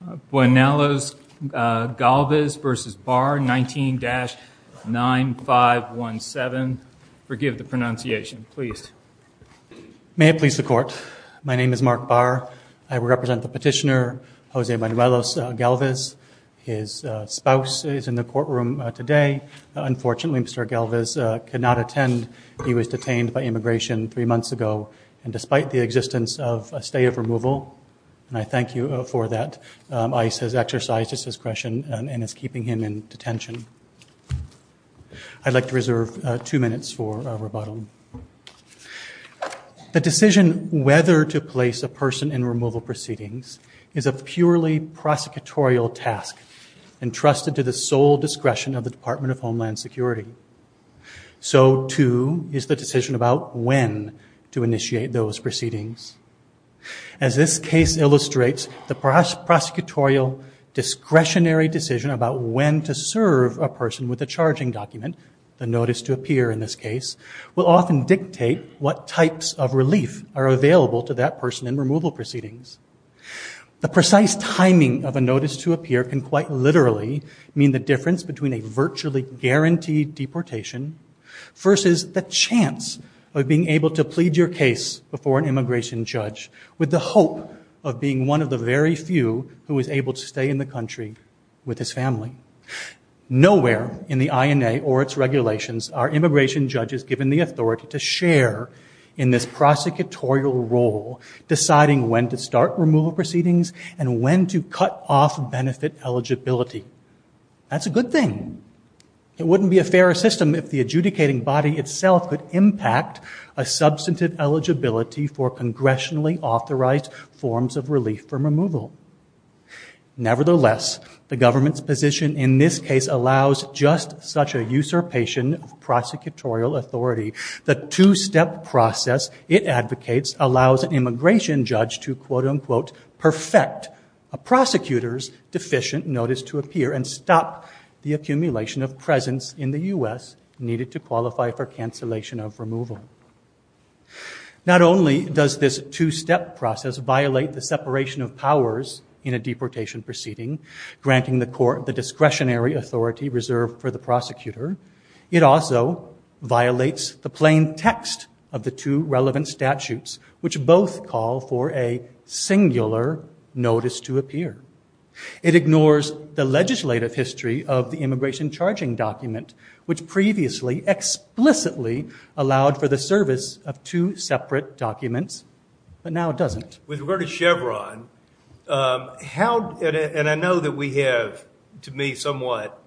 May I please the Court? My name is Mark Barr. I represent the petitioner, Jose Manuelos-Galviz. His spouse is in the courtroom today. Unfortunately, Mr. Galviz could not attend. He was detained by immigration three months ago, and despite the existence of a stay of The decision whether to place a person in removal proceedings is a purely prosecutorial task entrusted to the sole discretion of the Department of Homeland Security. So too is the decision about when to initiate those proceedings. As this case illustrates, the prosecutorial discretionary decision about when to serve a person with a charging document, the notice to appear in this case, will often dictate what types of relief are available to that person in removal proceedings. The precise timing of a notice to appear can quite literally mean the difference between a virtually guaranteed deportation versus the chance of being able to plead your case before an immigration judge with the hope of being one of the very few who is able to stay in the country with his family. Nowhere in the INA or its regulations are immigration judges given the authority to share in this prosecutorial role, deciding when to start removal proceedings and when to cut off benefit eligibility. That's a good thing. It wouldn't be a fairer system if the adjudicating body itself could impact a substantive eligibility for congressionally authorized forms of relief from removal. Nevertheless, the government's position in this case allows just such a usurpation of prosecutorial authority. The two-step process it advocates allows an immigration judge to, quote, unquote, perfect a prosecutor's deficient notice to appear and stop the accumulation of presence in the U.S. needed to qualify for cancellation of removal. Not only does this two-step process violate the separation of powers in a deportation proceeding, granting the court the discretionary authority reserved for the prosecutor, it also violates the plain text of the two relevant statutes, which both call for a singular notice to appear. It ignores the legislative history of the immigration charging document, which previously explicitly allowed for the service of two separate documents, but now doesn't. With regard to Chevron, and I know that we have, to me, somewhat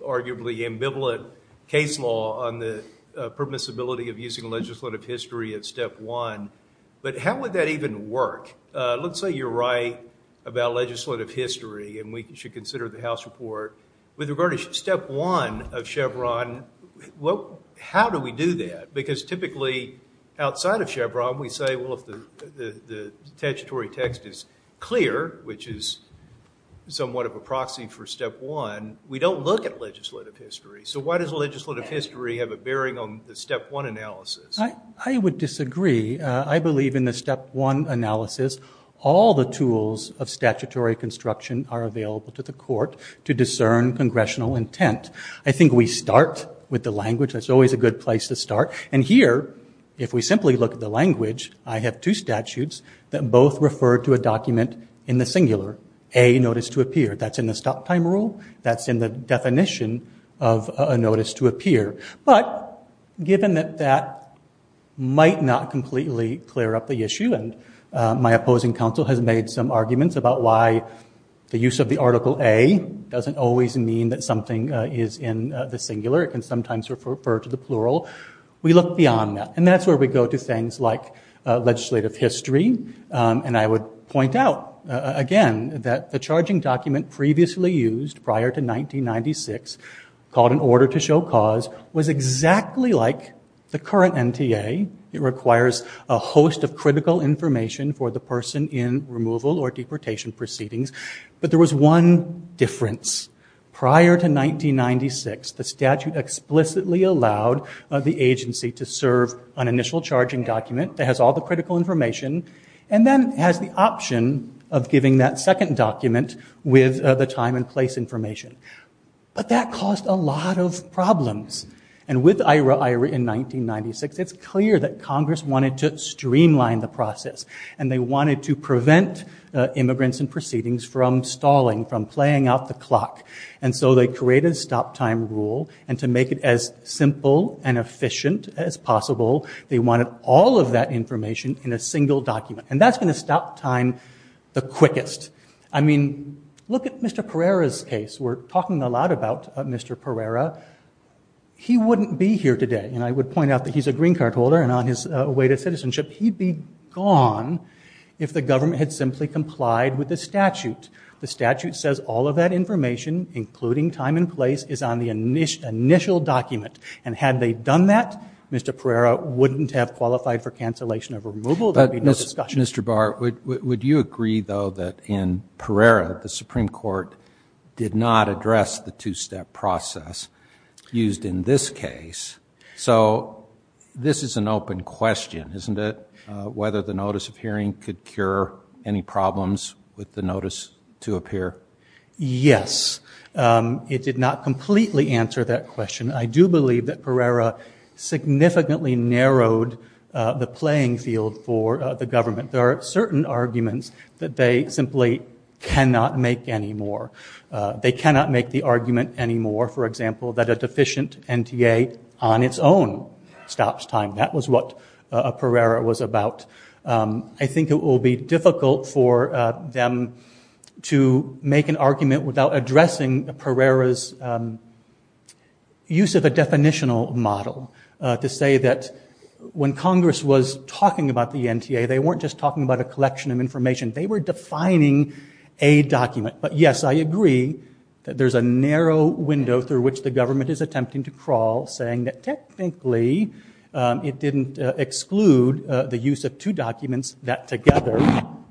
arguably ambivalent case law on the permissibility of using legislative history at step one, but how would that even work? Let's say you're right about legislative history and we should consider the House report. With regard to step one of Chevron, how do we do that? Because typically, outside of Chevron, we say, well, if the statutory text is clear, which is somewhat of a proxy for step one, we don't look at legislative history. So why does legislative history have a bearing on the step one analysis? I would disagree. I believe in the step one analysis, all the tools of statutory construction are available to the court to discern congressional intent. I think we start with the language. That's always a good place to start. And here, if we simply look at the language, I have two statutes that both refer to a document in the singular, a notice to appear. That's in the stop time rule. That's in the definition of a notice to appear. But given that that might not completely clear up the issue, and my opposing counsel has made some arguments about why the use of the article A doesn't always mean that something is in the singular, it can sometimes refer to the plural. We look beyond that. And that's where we go to things like legislative history. And I would point out, again, that the charging document previously used prior to 1996, called an order to show cause, was exactly like the current NTA. It requires a host of critical information for the person in removal or deportation proceedings. But there was one difference. Prior to 1996, the statute explicitly allowed the agency to serve an initial charging document that has all the critical information, and then has the option of giving that second document with the time and place information. But that caused a lot of problems. And with Aira Aira in 1996, it's clear that Congress wanted to streamline the process. And they wanted to prevent immigrants in proceedings from stalling, from playing out the clock. And so they created a stop time rule. And to make it as simple and efficient as possible, they wanted all of that information in a single document. And that's going to stop time the quickest. I mean, look at Mr. Pereira's case. We're talking a lot about Mr. Pereira. He wouldn't be here today. And I would point out that he's a green card holder. And on his way to citizenship, he'd be gone if the government had simply complied with the statute. The statute says all of that information, including time and place, is on the initial document. And had they done that, Mr. Pereira wouldn't have qualified for cancellation of removal. There'd be no discussion. Mr. Bart, would you agree, though, that in Pereira, the Supreme Court did not address the two-step process used in this case? So this is an open question, isn't it, whether the notice of hearing could cure any problems with the notice to appear? Yes. It did not completely answer that question. I do believe that Pereira significantly narrowed the playing field for the government. There are certain arguments that they simply cannot make anymore. They cannot make the argument anymore, for example, that a deficient NTA on its own stops time. That was what Pereira was about. I think it will be difficult for them to make an argument without addressing Pereira's use of a definitional model, to say that when Congress was talking about the NTA, they weren't just talking about a collection of information. They were defining a document. But yes, I agree that there's a narrow window through which the government is attempting to crawl, saying that technically it didn't exclude the use of two documents that together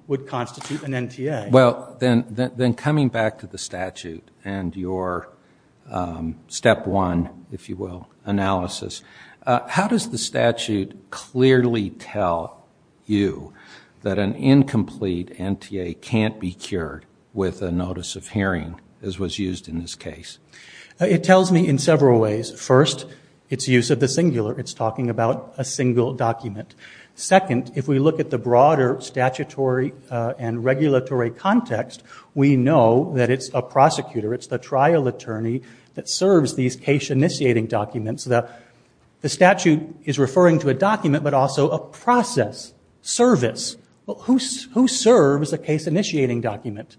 would constitute an NTA. Well, then coming back to the statute and your step one, if you will, analysis, how does the statute clearly tell you that an incomplete NTA can't be cured with a notice of hearing, as was used in this case? It tells me in several ways. First, its use of the singular. It's talking about a single document. Second, if we look at the broader statutory and regulatory context, we know that it's a prosecutor. It's the trial attorney that serves these case-initiating documents. The statute is referring to a document, but also a process, service. Who serves a case-initiating document?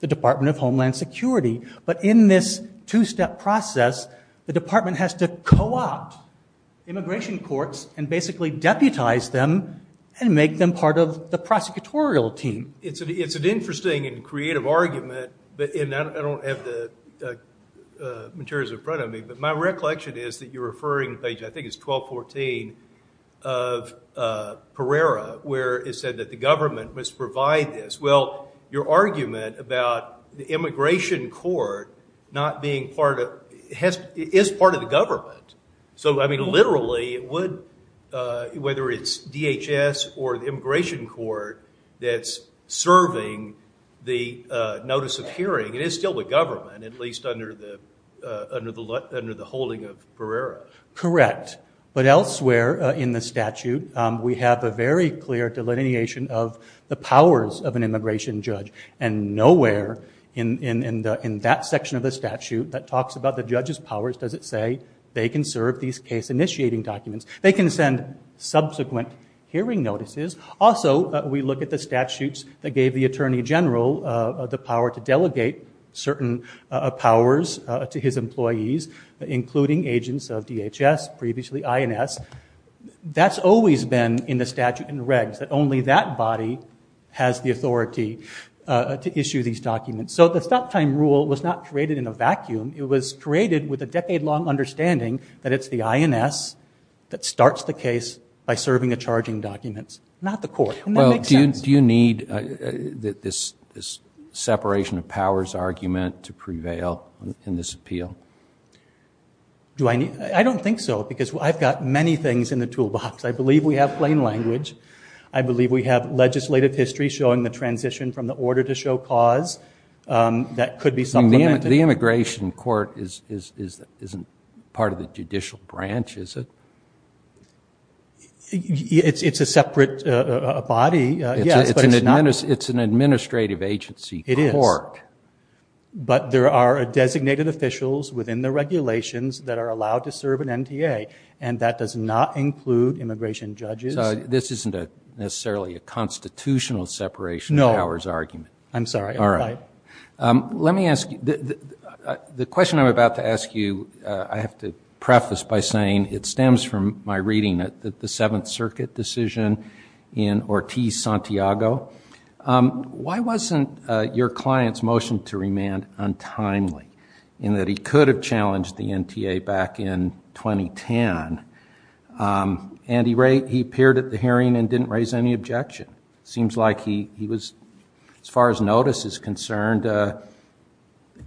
The Department of Homeland Security. But in this two-step process, the department has to co-opt immigration courts and basically deputize them and make them part of the prosecutorial team. It's an interesting and creative argument, and I don't have the materials in front of me, but my recollection is that you're referring to page, I think it's 1214 of Pereira, where it said that the government must provide this. Well, your argument about the immigration court not being part of, is part of the government. So I mean, literally, whether it's DHS or the immigration court that's serving the notice of hearing, it is still the government, at least under the holding of Pereira. Correct. But elsewhere in the statute, we have a very clear delineation of the powers of an immigration judge. And nowhere in that section of the statute that talks about the judge's powers does it say they can serve these case-initiating documents. They can send subsequent hearing notices. Also, we look at the statutes that gave the attorney general the power to delegate certain powers to his employees, including agents of DHS, previously INS. That's always been in the statute and regs, that only that body has the authority to issue these documents. So the stop-time rule was not created in a vacuum. It was created with a decade-long understanding that it's the INS that starts the case by serving the charging documents, not the court. And that makes sense. Do you need this separation of powers argument to prevail in this appeal? I don't think so, because I've got many things in the toolbox. I believe we have plain language. I believe we have legislative history showing the transition from the order to show cause that could be supplemented. The immigration court isn't part of the judicial branch, is it? It's a separate body, yes, but it's not... It's an administrative agency court. But there are designated officials within the regulations that are allowed to serve an NTA, and that does not include immigration judges. This isn't necessarily a constitutional separation of powers argument. No. I'm sorry. All right. Let me ask you... The question I'm about to ask you, I have to preface by saying it stems from my reading at the Seventh Circuit decision in Ortiz-Santiago. Why wasn't your client's motion to remand untimely, in that he could have challenged the NTA back in 2010, and he appeared at the hearing and didn't raise any objection? Seems like he was, as far as notice is concerned,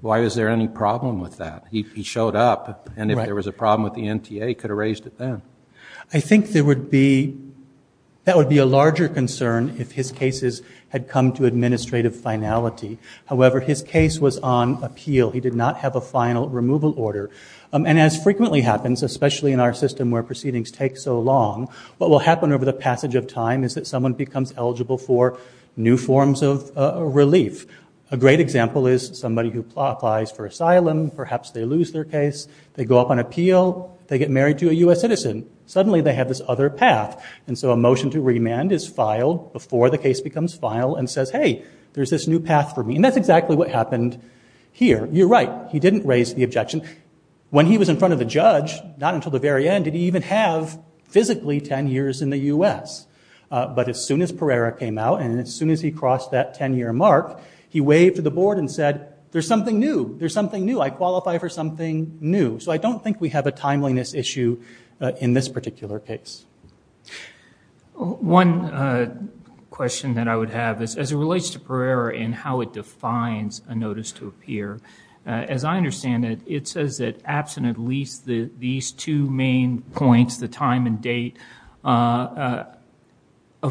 why was there any problem with that? He showed up, and if there was a problem with the NTA, he could have raised it then. I think there would be... That would be a larger concern if his cases had come to administrative finality. However, his case was on appeal. He did not have a final removal order. And as frequently happens, especially in our system where proceedings take so long, what will happen over the passage of time is that someone becomes eligible for new forms of relief. A great example is somebody who applies for asylum. Perhaps they lose their case. They go up on appeal. They get married to a U.S. citizen. Suddenly they have this other path. And so a motion to remand is filed before the case becomes filed and says, hey, there's this new path for me. And that's exactly what happened here. You're right. He didn't raise the objection. When he was in front of the judge, not until the very end, did he even have physically 10 years in the U.S. But as soon as Pereira came out and as soon as he crossed that 10-year mark, he waved to the board and said, there's something new. There's something new. I qualify for something new. So I don't think we have a timeliness issue in this particular case. One question that I would have is, as it relates to Pereira and how it defines a notice to appear, as I understand it, it says that absent at least these two main points, the time and date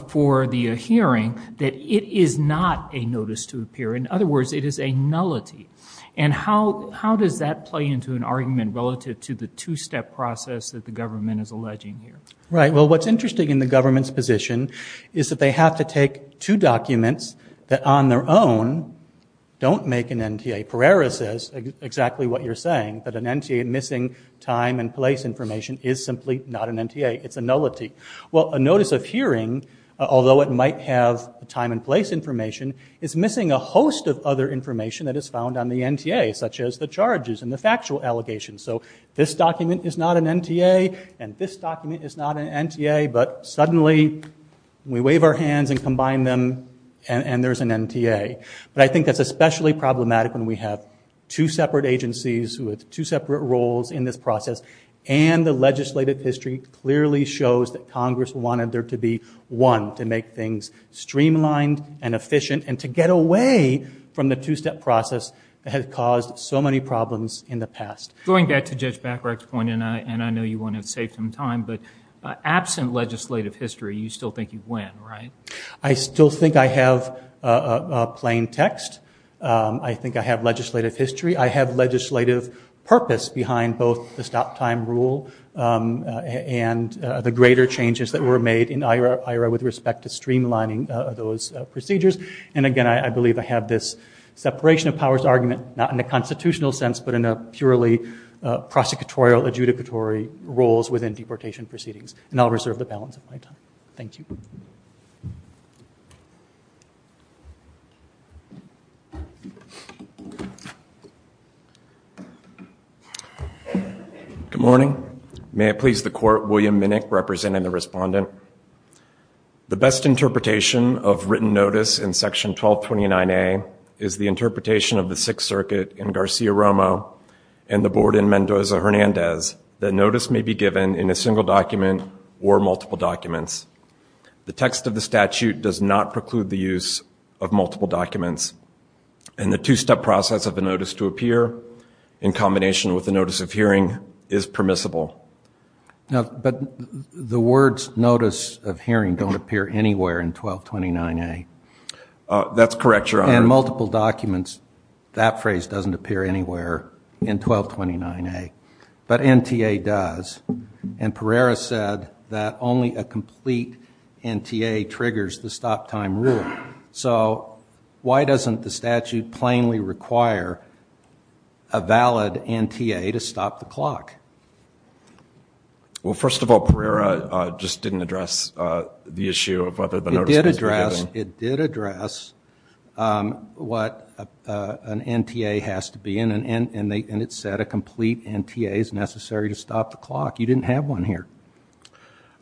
for the hearing, that it is not a notice to appear. In other words, it is a nullity. And how does that play into an argument relative to the two-step process that the government is alleging here? Right. Well, what's interesting in the government's position is that they have to take two documents that on their own don't make an NTA. Pereira says exactly what you're saying, that an NTA missing time and place information is simply not an NTA. It's a nullity. Well, a notice of hearing, although it might have time and place information, is missing a host of other information that is found on the NTA, such as the charges and the factual allegations. So this document is not an NTA, and this document is not an NTA, but suddenly we wave our hands and combine them, and there's an NTA. But I think that's especially problematic when we have two separate agencies with two Congress wanted there to be one to make things streamlined and efficient and to get away from the two-step process that has caused so many problems in the past. Going back to Judge Bacharach's point, and I know you want to save some time, but absent legislative history, you still think you win, right? I still think I have plain text. I think I have legislative history. I have legislative purpose behind both the stop-time rule and the greater changes that were made in IHRA with respect to streamlining those procedures. And again, I believe I have this separation of powers argument, not in a constitutional sense, but in a purely prosecutorial, adjudicatory roles within deportation proceedings. And I'll reserve the balance of my time. Thank you. Good morning. May it please the Court, William Minnick representing the Respondent. The best interpretation of written notice in Section 1229A is the interpretation of the Sixth Circuit in Garcia-Romo and the Board in Mendoza-Hernandez that notice may be given in a single document or multiple documents. The text of the statute does not preclude the use of multiple documents, and the two-step process of a notice to appear in combination with a notice of hearing is permissible. But the words notice of hearing don't appear anywhere in 1229A. That's correct, Your Honor. And multiple documents, that phrase doesn't appear anywhere in 1229A, but NTA does. And Pereira said that only a complete NTA triggers the stop-time rule. So why doesn't the statute plainly require a valid NTA to stop the clock? Well, first of all, Pereira just didn't address the issue of whether the notice would be given. It did address what an NTA has to be, and it said a complete NTA is necessary to stop the clock. You didn't have one here.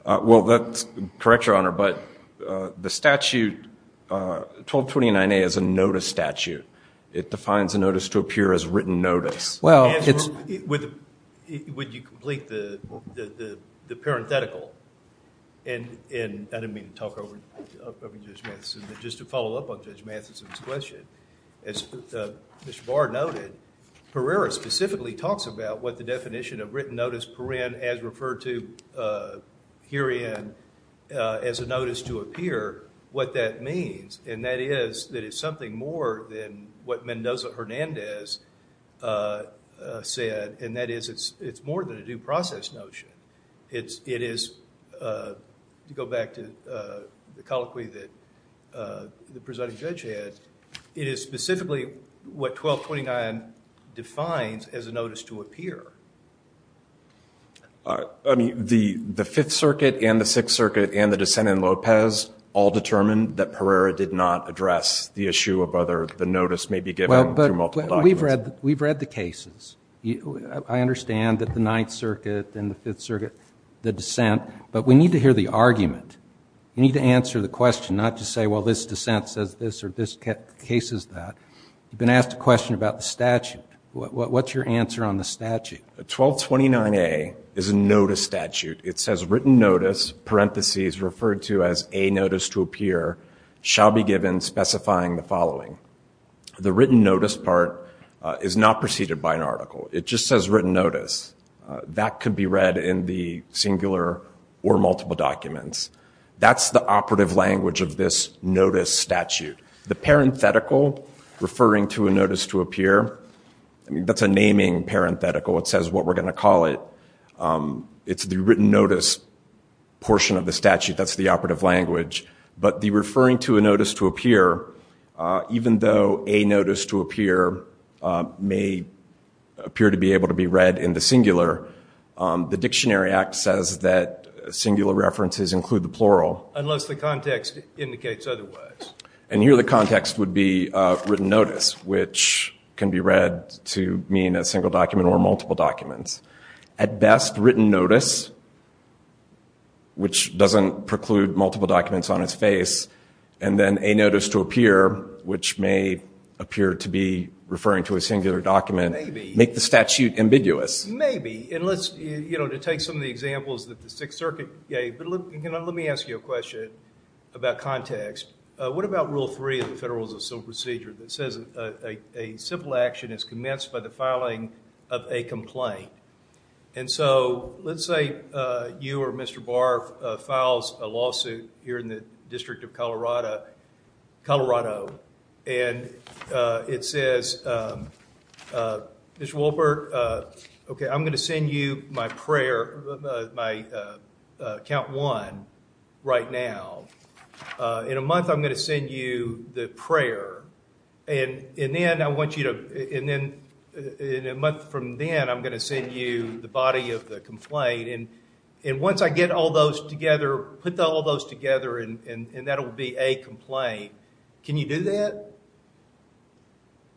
Well, that's correct, Your Honor, but the statute, 1229A is a notice statute. It defines a notice to appear as written notice. Well, it's... Would you complete the parenthetical? And I didn't mean to talk over Judge Matheson, but just to follow up on Judge Matheson's question, as Mr. Barr noted, Pereira specifically talks about what the definition of written herein as a notice to appear, what that means, and that is that it's something more than what Mendoza-Hernandez said, and that is it's more than a due process notion. It is, to go back to the colloquy that the presiding judge had, it is specifically what 1229 defines as a notice to appear. I mean, the Fifth Circuit and the Sixth Circuit and the dissent in Lopez all determined that Pereira did not address the issue of whether the notice may be given through multiple documents. Well, but we've read the cases. I understand that the Ninth Circuit and the Fifth Circuit, the dissent, but we need to hear the argument. You need to answer the question, not just say, well, this dissent says this or this You've been asked a question about the statute. What's your answer on the statute? 1229A is a notice statute. It says written notice, parentheses, referred to as a notice to appear, shall be given specifying the following. The written notice part is not preceded by an article. It just says written notice. That could be read in the singular or multiple documents. That's the operative language of this notice statute. The parenthetical referring to a notice to appear, I mean, that's a naming parenthetical. It says what we're going to call it. It's the written notice portion of the statute. That's the operative language. But the referring to a notice to appear, even though a notice to appear may appear to be able to be read in the singular, the Dictionary Act says that singular references include the plural. Unless the context indicates otherwise. And here the context would be written notice, which can be read to mean a single document or multiple documents. At best, written notice, which doesn't preclude multiple documents on its face. And then a notice to appear, which may appear to be referring to a singular document. Make the statute ambiguous. Maybe. And let's, you know, to take some of the examples that the Sixth Circuit gave, but let me ask you a question about context. What about Rule 3 of the Federalism of Civil Procedure that says a civil action is commenced by the filing of a complaint? And so, let's say you or Mr. Barr files a lawsuit here in the District of Colorado. And it says, Mr. Wolpert, okay, I'm going to send you my prayer, my count one right now. In a month, I'm going to send you the prayer. And then I want you to, and then in a month from then, I'm going to send you the body of the complaint. And once I get all those together, put all those together, and that will be a complaint. Can you do that?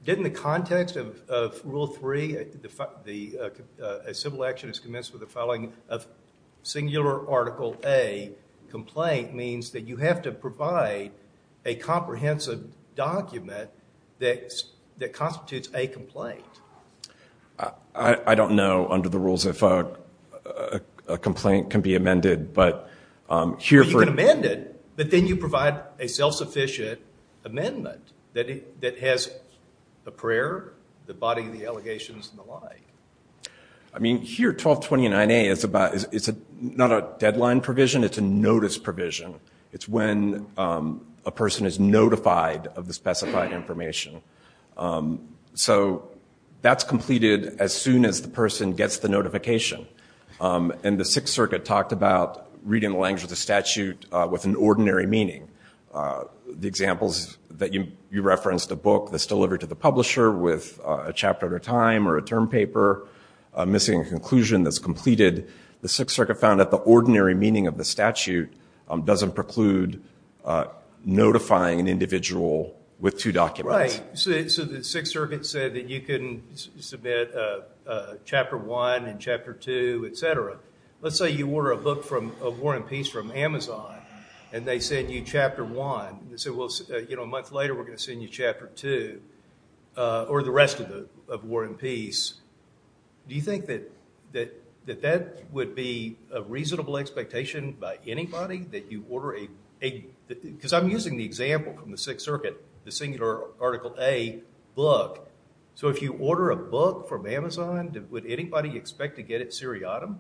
Didn't the context of Rule 3, a civil action is commenced with the filing of singular Article A complaint, means that you have to provide a comprehensive document that constitutes a complaint. I don't know, under the rules, if a complaint can be amended, but here for... You can amend it, but then you provide a self-sufficient amendment that has the prayer, the body of the allegations, and the lie. I mean, here, 1229A is about, it's not a deadline provision, it's a notice provision. It's when a person is notified of the specified information. So, that's completed as soon as the person gets the notification, and the Sixth Circuit talked about reading the language of the statute with an ordinary meaning. The examples that you referenced, the book that's delivered to the publisher with a chapter at a time or a term paper, missing a conclusion that's completed. The Sixth Circuit found that the ordinary meaning of the statute doesn't preclude notifying an individual with two documents. Right. So, the Sixth Circuit said that you can submit Chapter 1 and Chapter 2, et cetera. Let's say you order a book of War and Peace from Amazon, and they send you Chapter 1. They say, well, a month later, we're going to send you Chapter 2, or the rest of War and Peace. Do you think that that would be a reasonable expectation by anybody, that you order a... Because I'm using the example from the Sixth Circuit, the singular Article A, book. So, if you order a book from Amazon, would anybody expect to get it seriatim?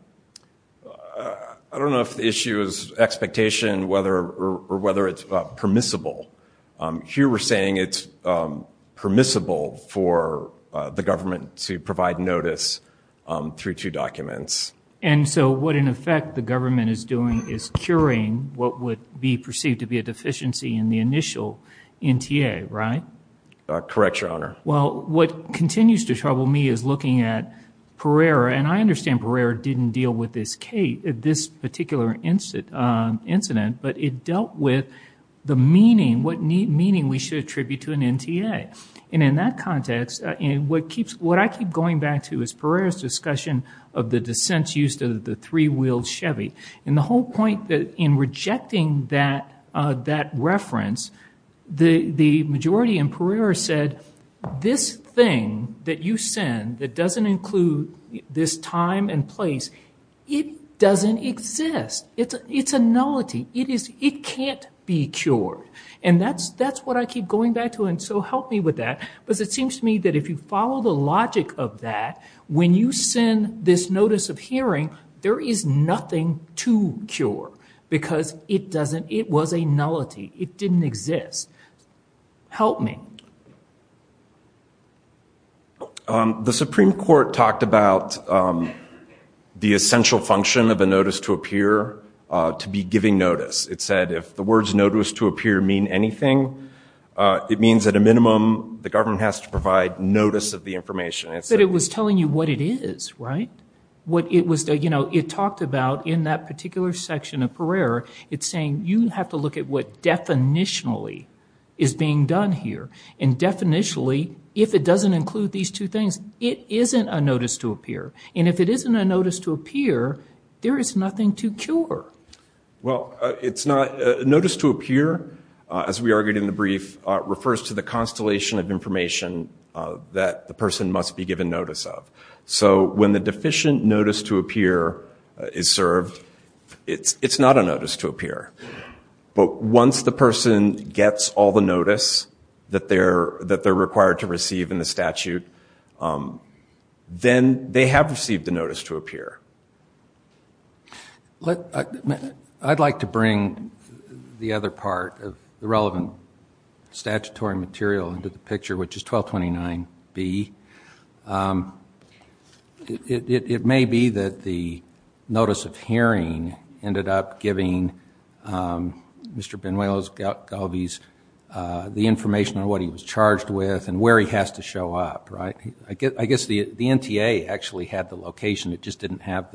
I don't know if the issue is expectation or whether it's permissible. Here we're saying it's permissible for the government to provide notice through two documents. And so, what in effect the government is doing is curing what would be perceived to be a deficiency in the initial NTA, right? Correct, Your Honor. Well, what continues to trouble me is looking at Pereira, and I understand Pereira didn't deal with this particular incident, but it dealt with the meaning, what meaning we should attribute to an NTA. And in that context, what I keep going back to is Pereira's discussion of the dissents used of the three-wheeled Chevy. And the whole point in rejecting that reference, the majority in Pereira said, this thing that you send that doesn't include this time and place, it doesn't exist. It's a nullity. It can't be cured. And that's what I keep going back to, and so help me with that, because it seems to me that if you follow the logic of that, when you send this notice of hearing, there is nothing to cure because it doesn't, it was a nullity. It didn't exist. Help me. The Supreme Court talked about the essential function of a notice to appear to be giving notice. It said, if the words notice to appear mean anything, it means at a minimum, the government has to provide notice of the information. But it was telling you what it is, right? What it was, you know, it talked about in that particular section of Pereira, it's saying you have to look at what definitionally is being done here, and definitionally, if it doesn't include these two things, it isn't a notice to appear, and if it isn't a notice to appear, there is nothing to cure. Well, it's not, notice to appear, as we argued in the brief, refers to the constellation of information that the person must be given notice of. So when the deficient notice to appear is served, it's not a notice to appear. But once the person gets all the notice that they're required to receive in the statute, then they have received the notice to appear. I'd like to bring the other part of the relevant statutory material into the picture, which is 1229B. It may be that the notice of hearing ended up giving Mr. Benuelos Galvez the information on what he was charged with, and where he has to show up, right? I guess the NTA actually had the location, it just didn't have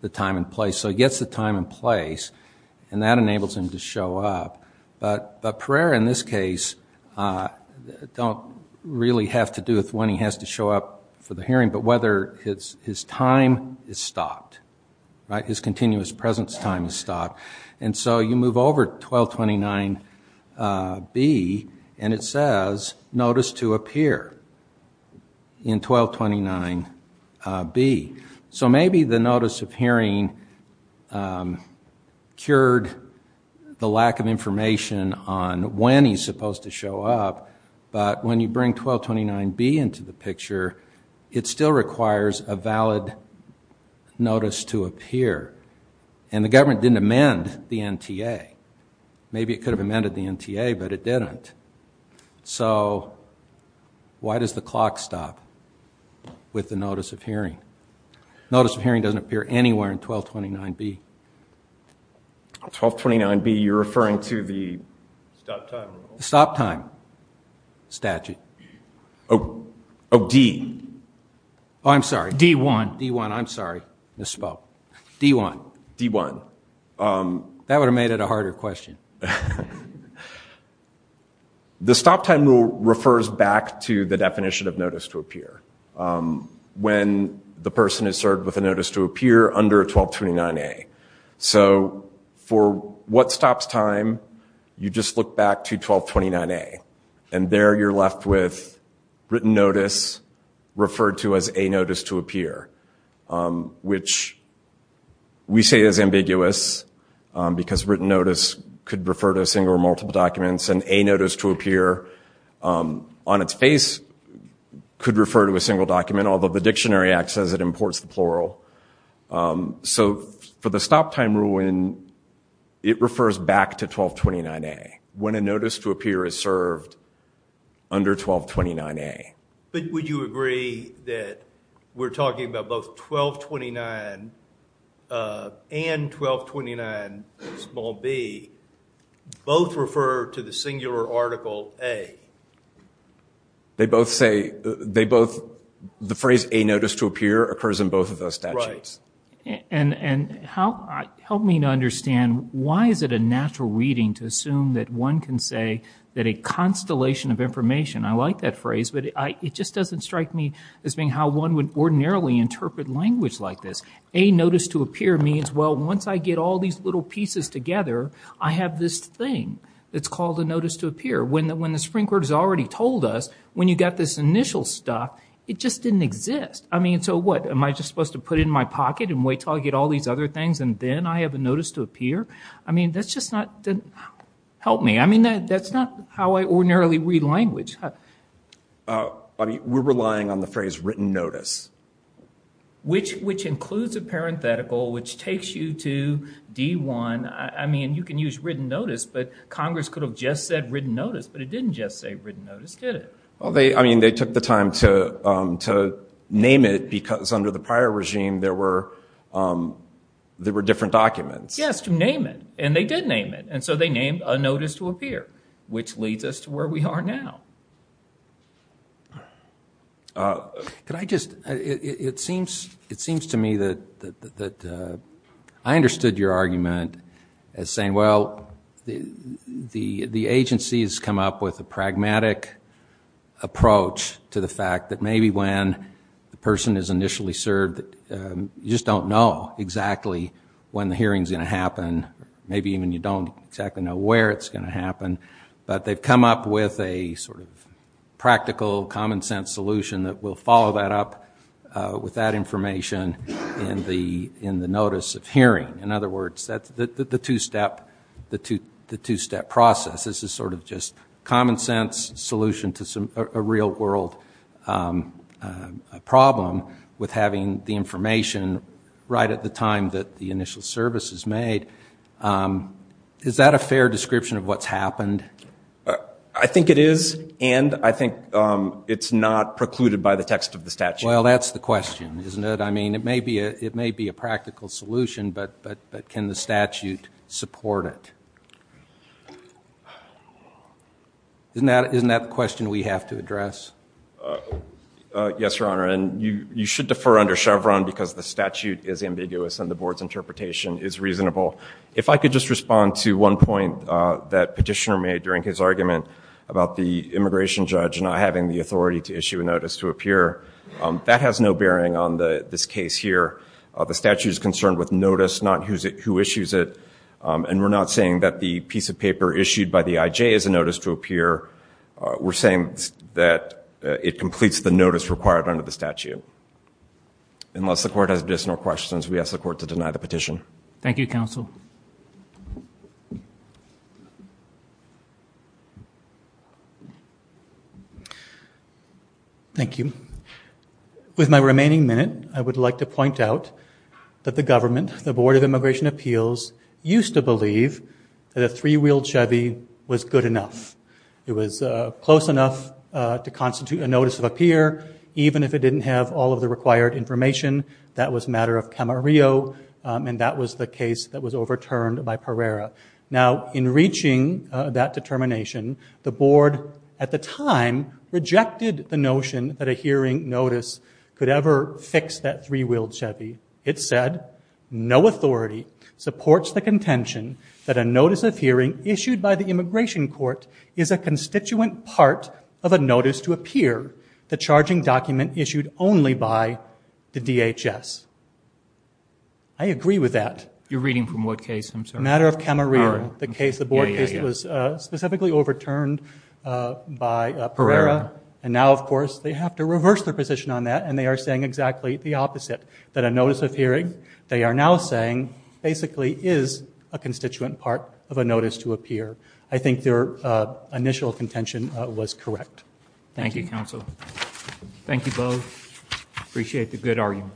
the time and place. So he gets the time and place, and that enables him to show up, but Pereira, in this case, don't really have to do with when he has to show up for the hearing, but whether his time is stopped, right, his continuous presence time is stopped. And so you move over to 1229B, and it says notice to appear in 1229B. So maybe the notice of hearing cured the lack of information on when he's supposed to show up, but when you bring 1229B into the picture, it still requires a valid notice to appear. And the government didn't amend the NTA. Maybe it could have amended the NTA, but it didn't. So why does the clock stop with the notice of hearing? Notice of hearing doesn't appear anywhere in 1229B. 1229B, you're referring to the stop time rule? Stop time statute. Oh, D. Oh, I'm sorry. D1. D1, I'm sorry. I misspoke. D1. D1. That would have made it a harder question. The stop time rule refers back to the definition of notice to appear, when the person is served with a notice to appear under 1229A. So for what stops time, you just look back to 1229A, and there you're left with written notice, referred to as a notice to appear, which we say is ambiguous, because written notice could refer to a single or multiple documents, and a notice to appear on its face could refer to a single document, although the dictionary acts as it imports the plural. So for the stop time rule, it refers back to 1229A, when a notice to appear is served under 1229A. But would you agree that we're talking about both 1229 and 1229B both refer to the singular article A? They both say, they both, the phrase A notice to appear occurs in both of those statutes. And help me to understand, why is it a natural reading to assume that one can say that a constellation of information, I like that phrase, but it just doesn't strike me as being how one would ordinarily interpret language like this. A notice to appear means, well, once I get all these little pieces together, I have this thing that's called a notice to appear. When the Supreme Court has already told us, when you got this initial stop, it just didn't exist. I mean, so what, am I just supposed to put it in my pocket and wait until I get all these other things, and then I have a notice to appear? I mean, that's just not, help me. That's not how I ordinarily read language. We're relying on the phrase written notice. Which includes a parenthetical, which takes you to D1. You can use written notice, but Congress could have just said written notice, but it didn't just say written notice, did it? They took the time to name it, because under the prior regime, there were different documents. Yes, to name it. And they did name it. And so they named a notice to appear, which leads us to where we are now. It seems to me that I understood your argument as saying, well, the agency has come up with a pragmatic approach to the fact that maybe when the person is initially served, you just don't know exactly when the hearing's going to happen. Maybe even you don't exactly know where it's going to happen. But they've come up with a sort of practical, common sense solution that will follow that up with that information in the notice of hearing. In other words, the two-step process. This is sort of just common sense solution to a real world problem with having the information right at the time that the initial service is made. Is that a fair description of what's happened? I think it is, and I think it's not precluded by the text of the statute. Well, that's the question, isn't it? I mean, it may be a practical solution, but can the statute support it? Isn't that the question we have to address? Yes, Your Honor, and you should defer under Chevron, because the statute is ambiguous and the board's interpretation is reasonable. If I could just respond to one point that Petitioner made during his argument about the immigration judge not having the authority to issue a notice to appear, that has no bearing on this case here. The statute is concerned with notice, not who issues it. And we're not saying that the piece of paper issued by the IJ is a notice to appear. We're saying that it completes the notice required under the statute. Unless the court has additional questions, we ask the court to deny the petition. Thank you, counsel. Thank you. With my remaining minute, I would like to point out that the government, the Board of the Court of Appeals, it was close enough to constitute a notice of appear, even if it didn't have all of the required information. That was a matter of Camarillo, and that was the case that was overturned by Pereira. Now in reaching that determination, the Board at the time rejected the notion that a hearing notice could ever fix that three-wheeled Chevy. It said, no authority supports the contention that a notice of hearing issued by the immigration court is a constituent part of a notice to appear, the charging document issued only by the DHS. I agree with that. You're reading from what case, I'm sorry? Matter of Camarillo, the case, the Board case that was specifically overturned by Pereira. And now, of course, they have to reverse their position on that, and they are saying exactly the opposite. That a notice of hearing, they are now saying, basically is a constituent part of a notice to appear. I think their initial contention was correct. Thank you, counsel. Thank you, both. I appreciate the good argument.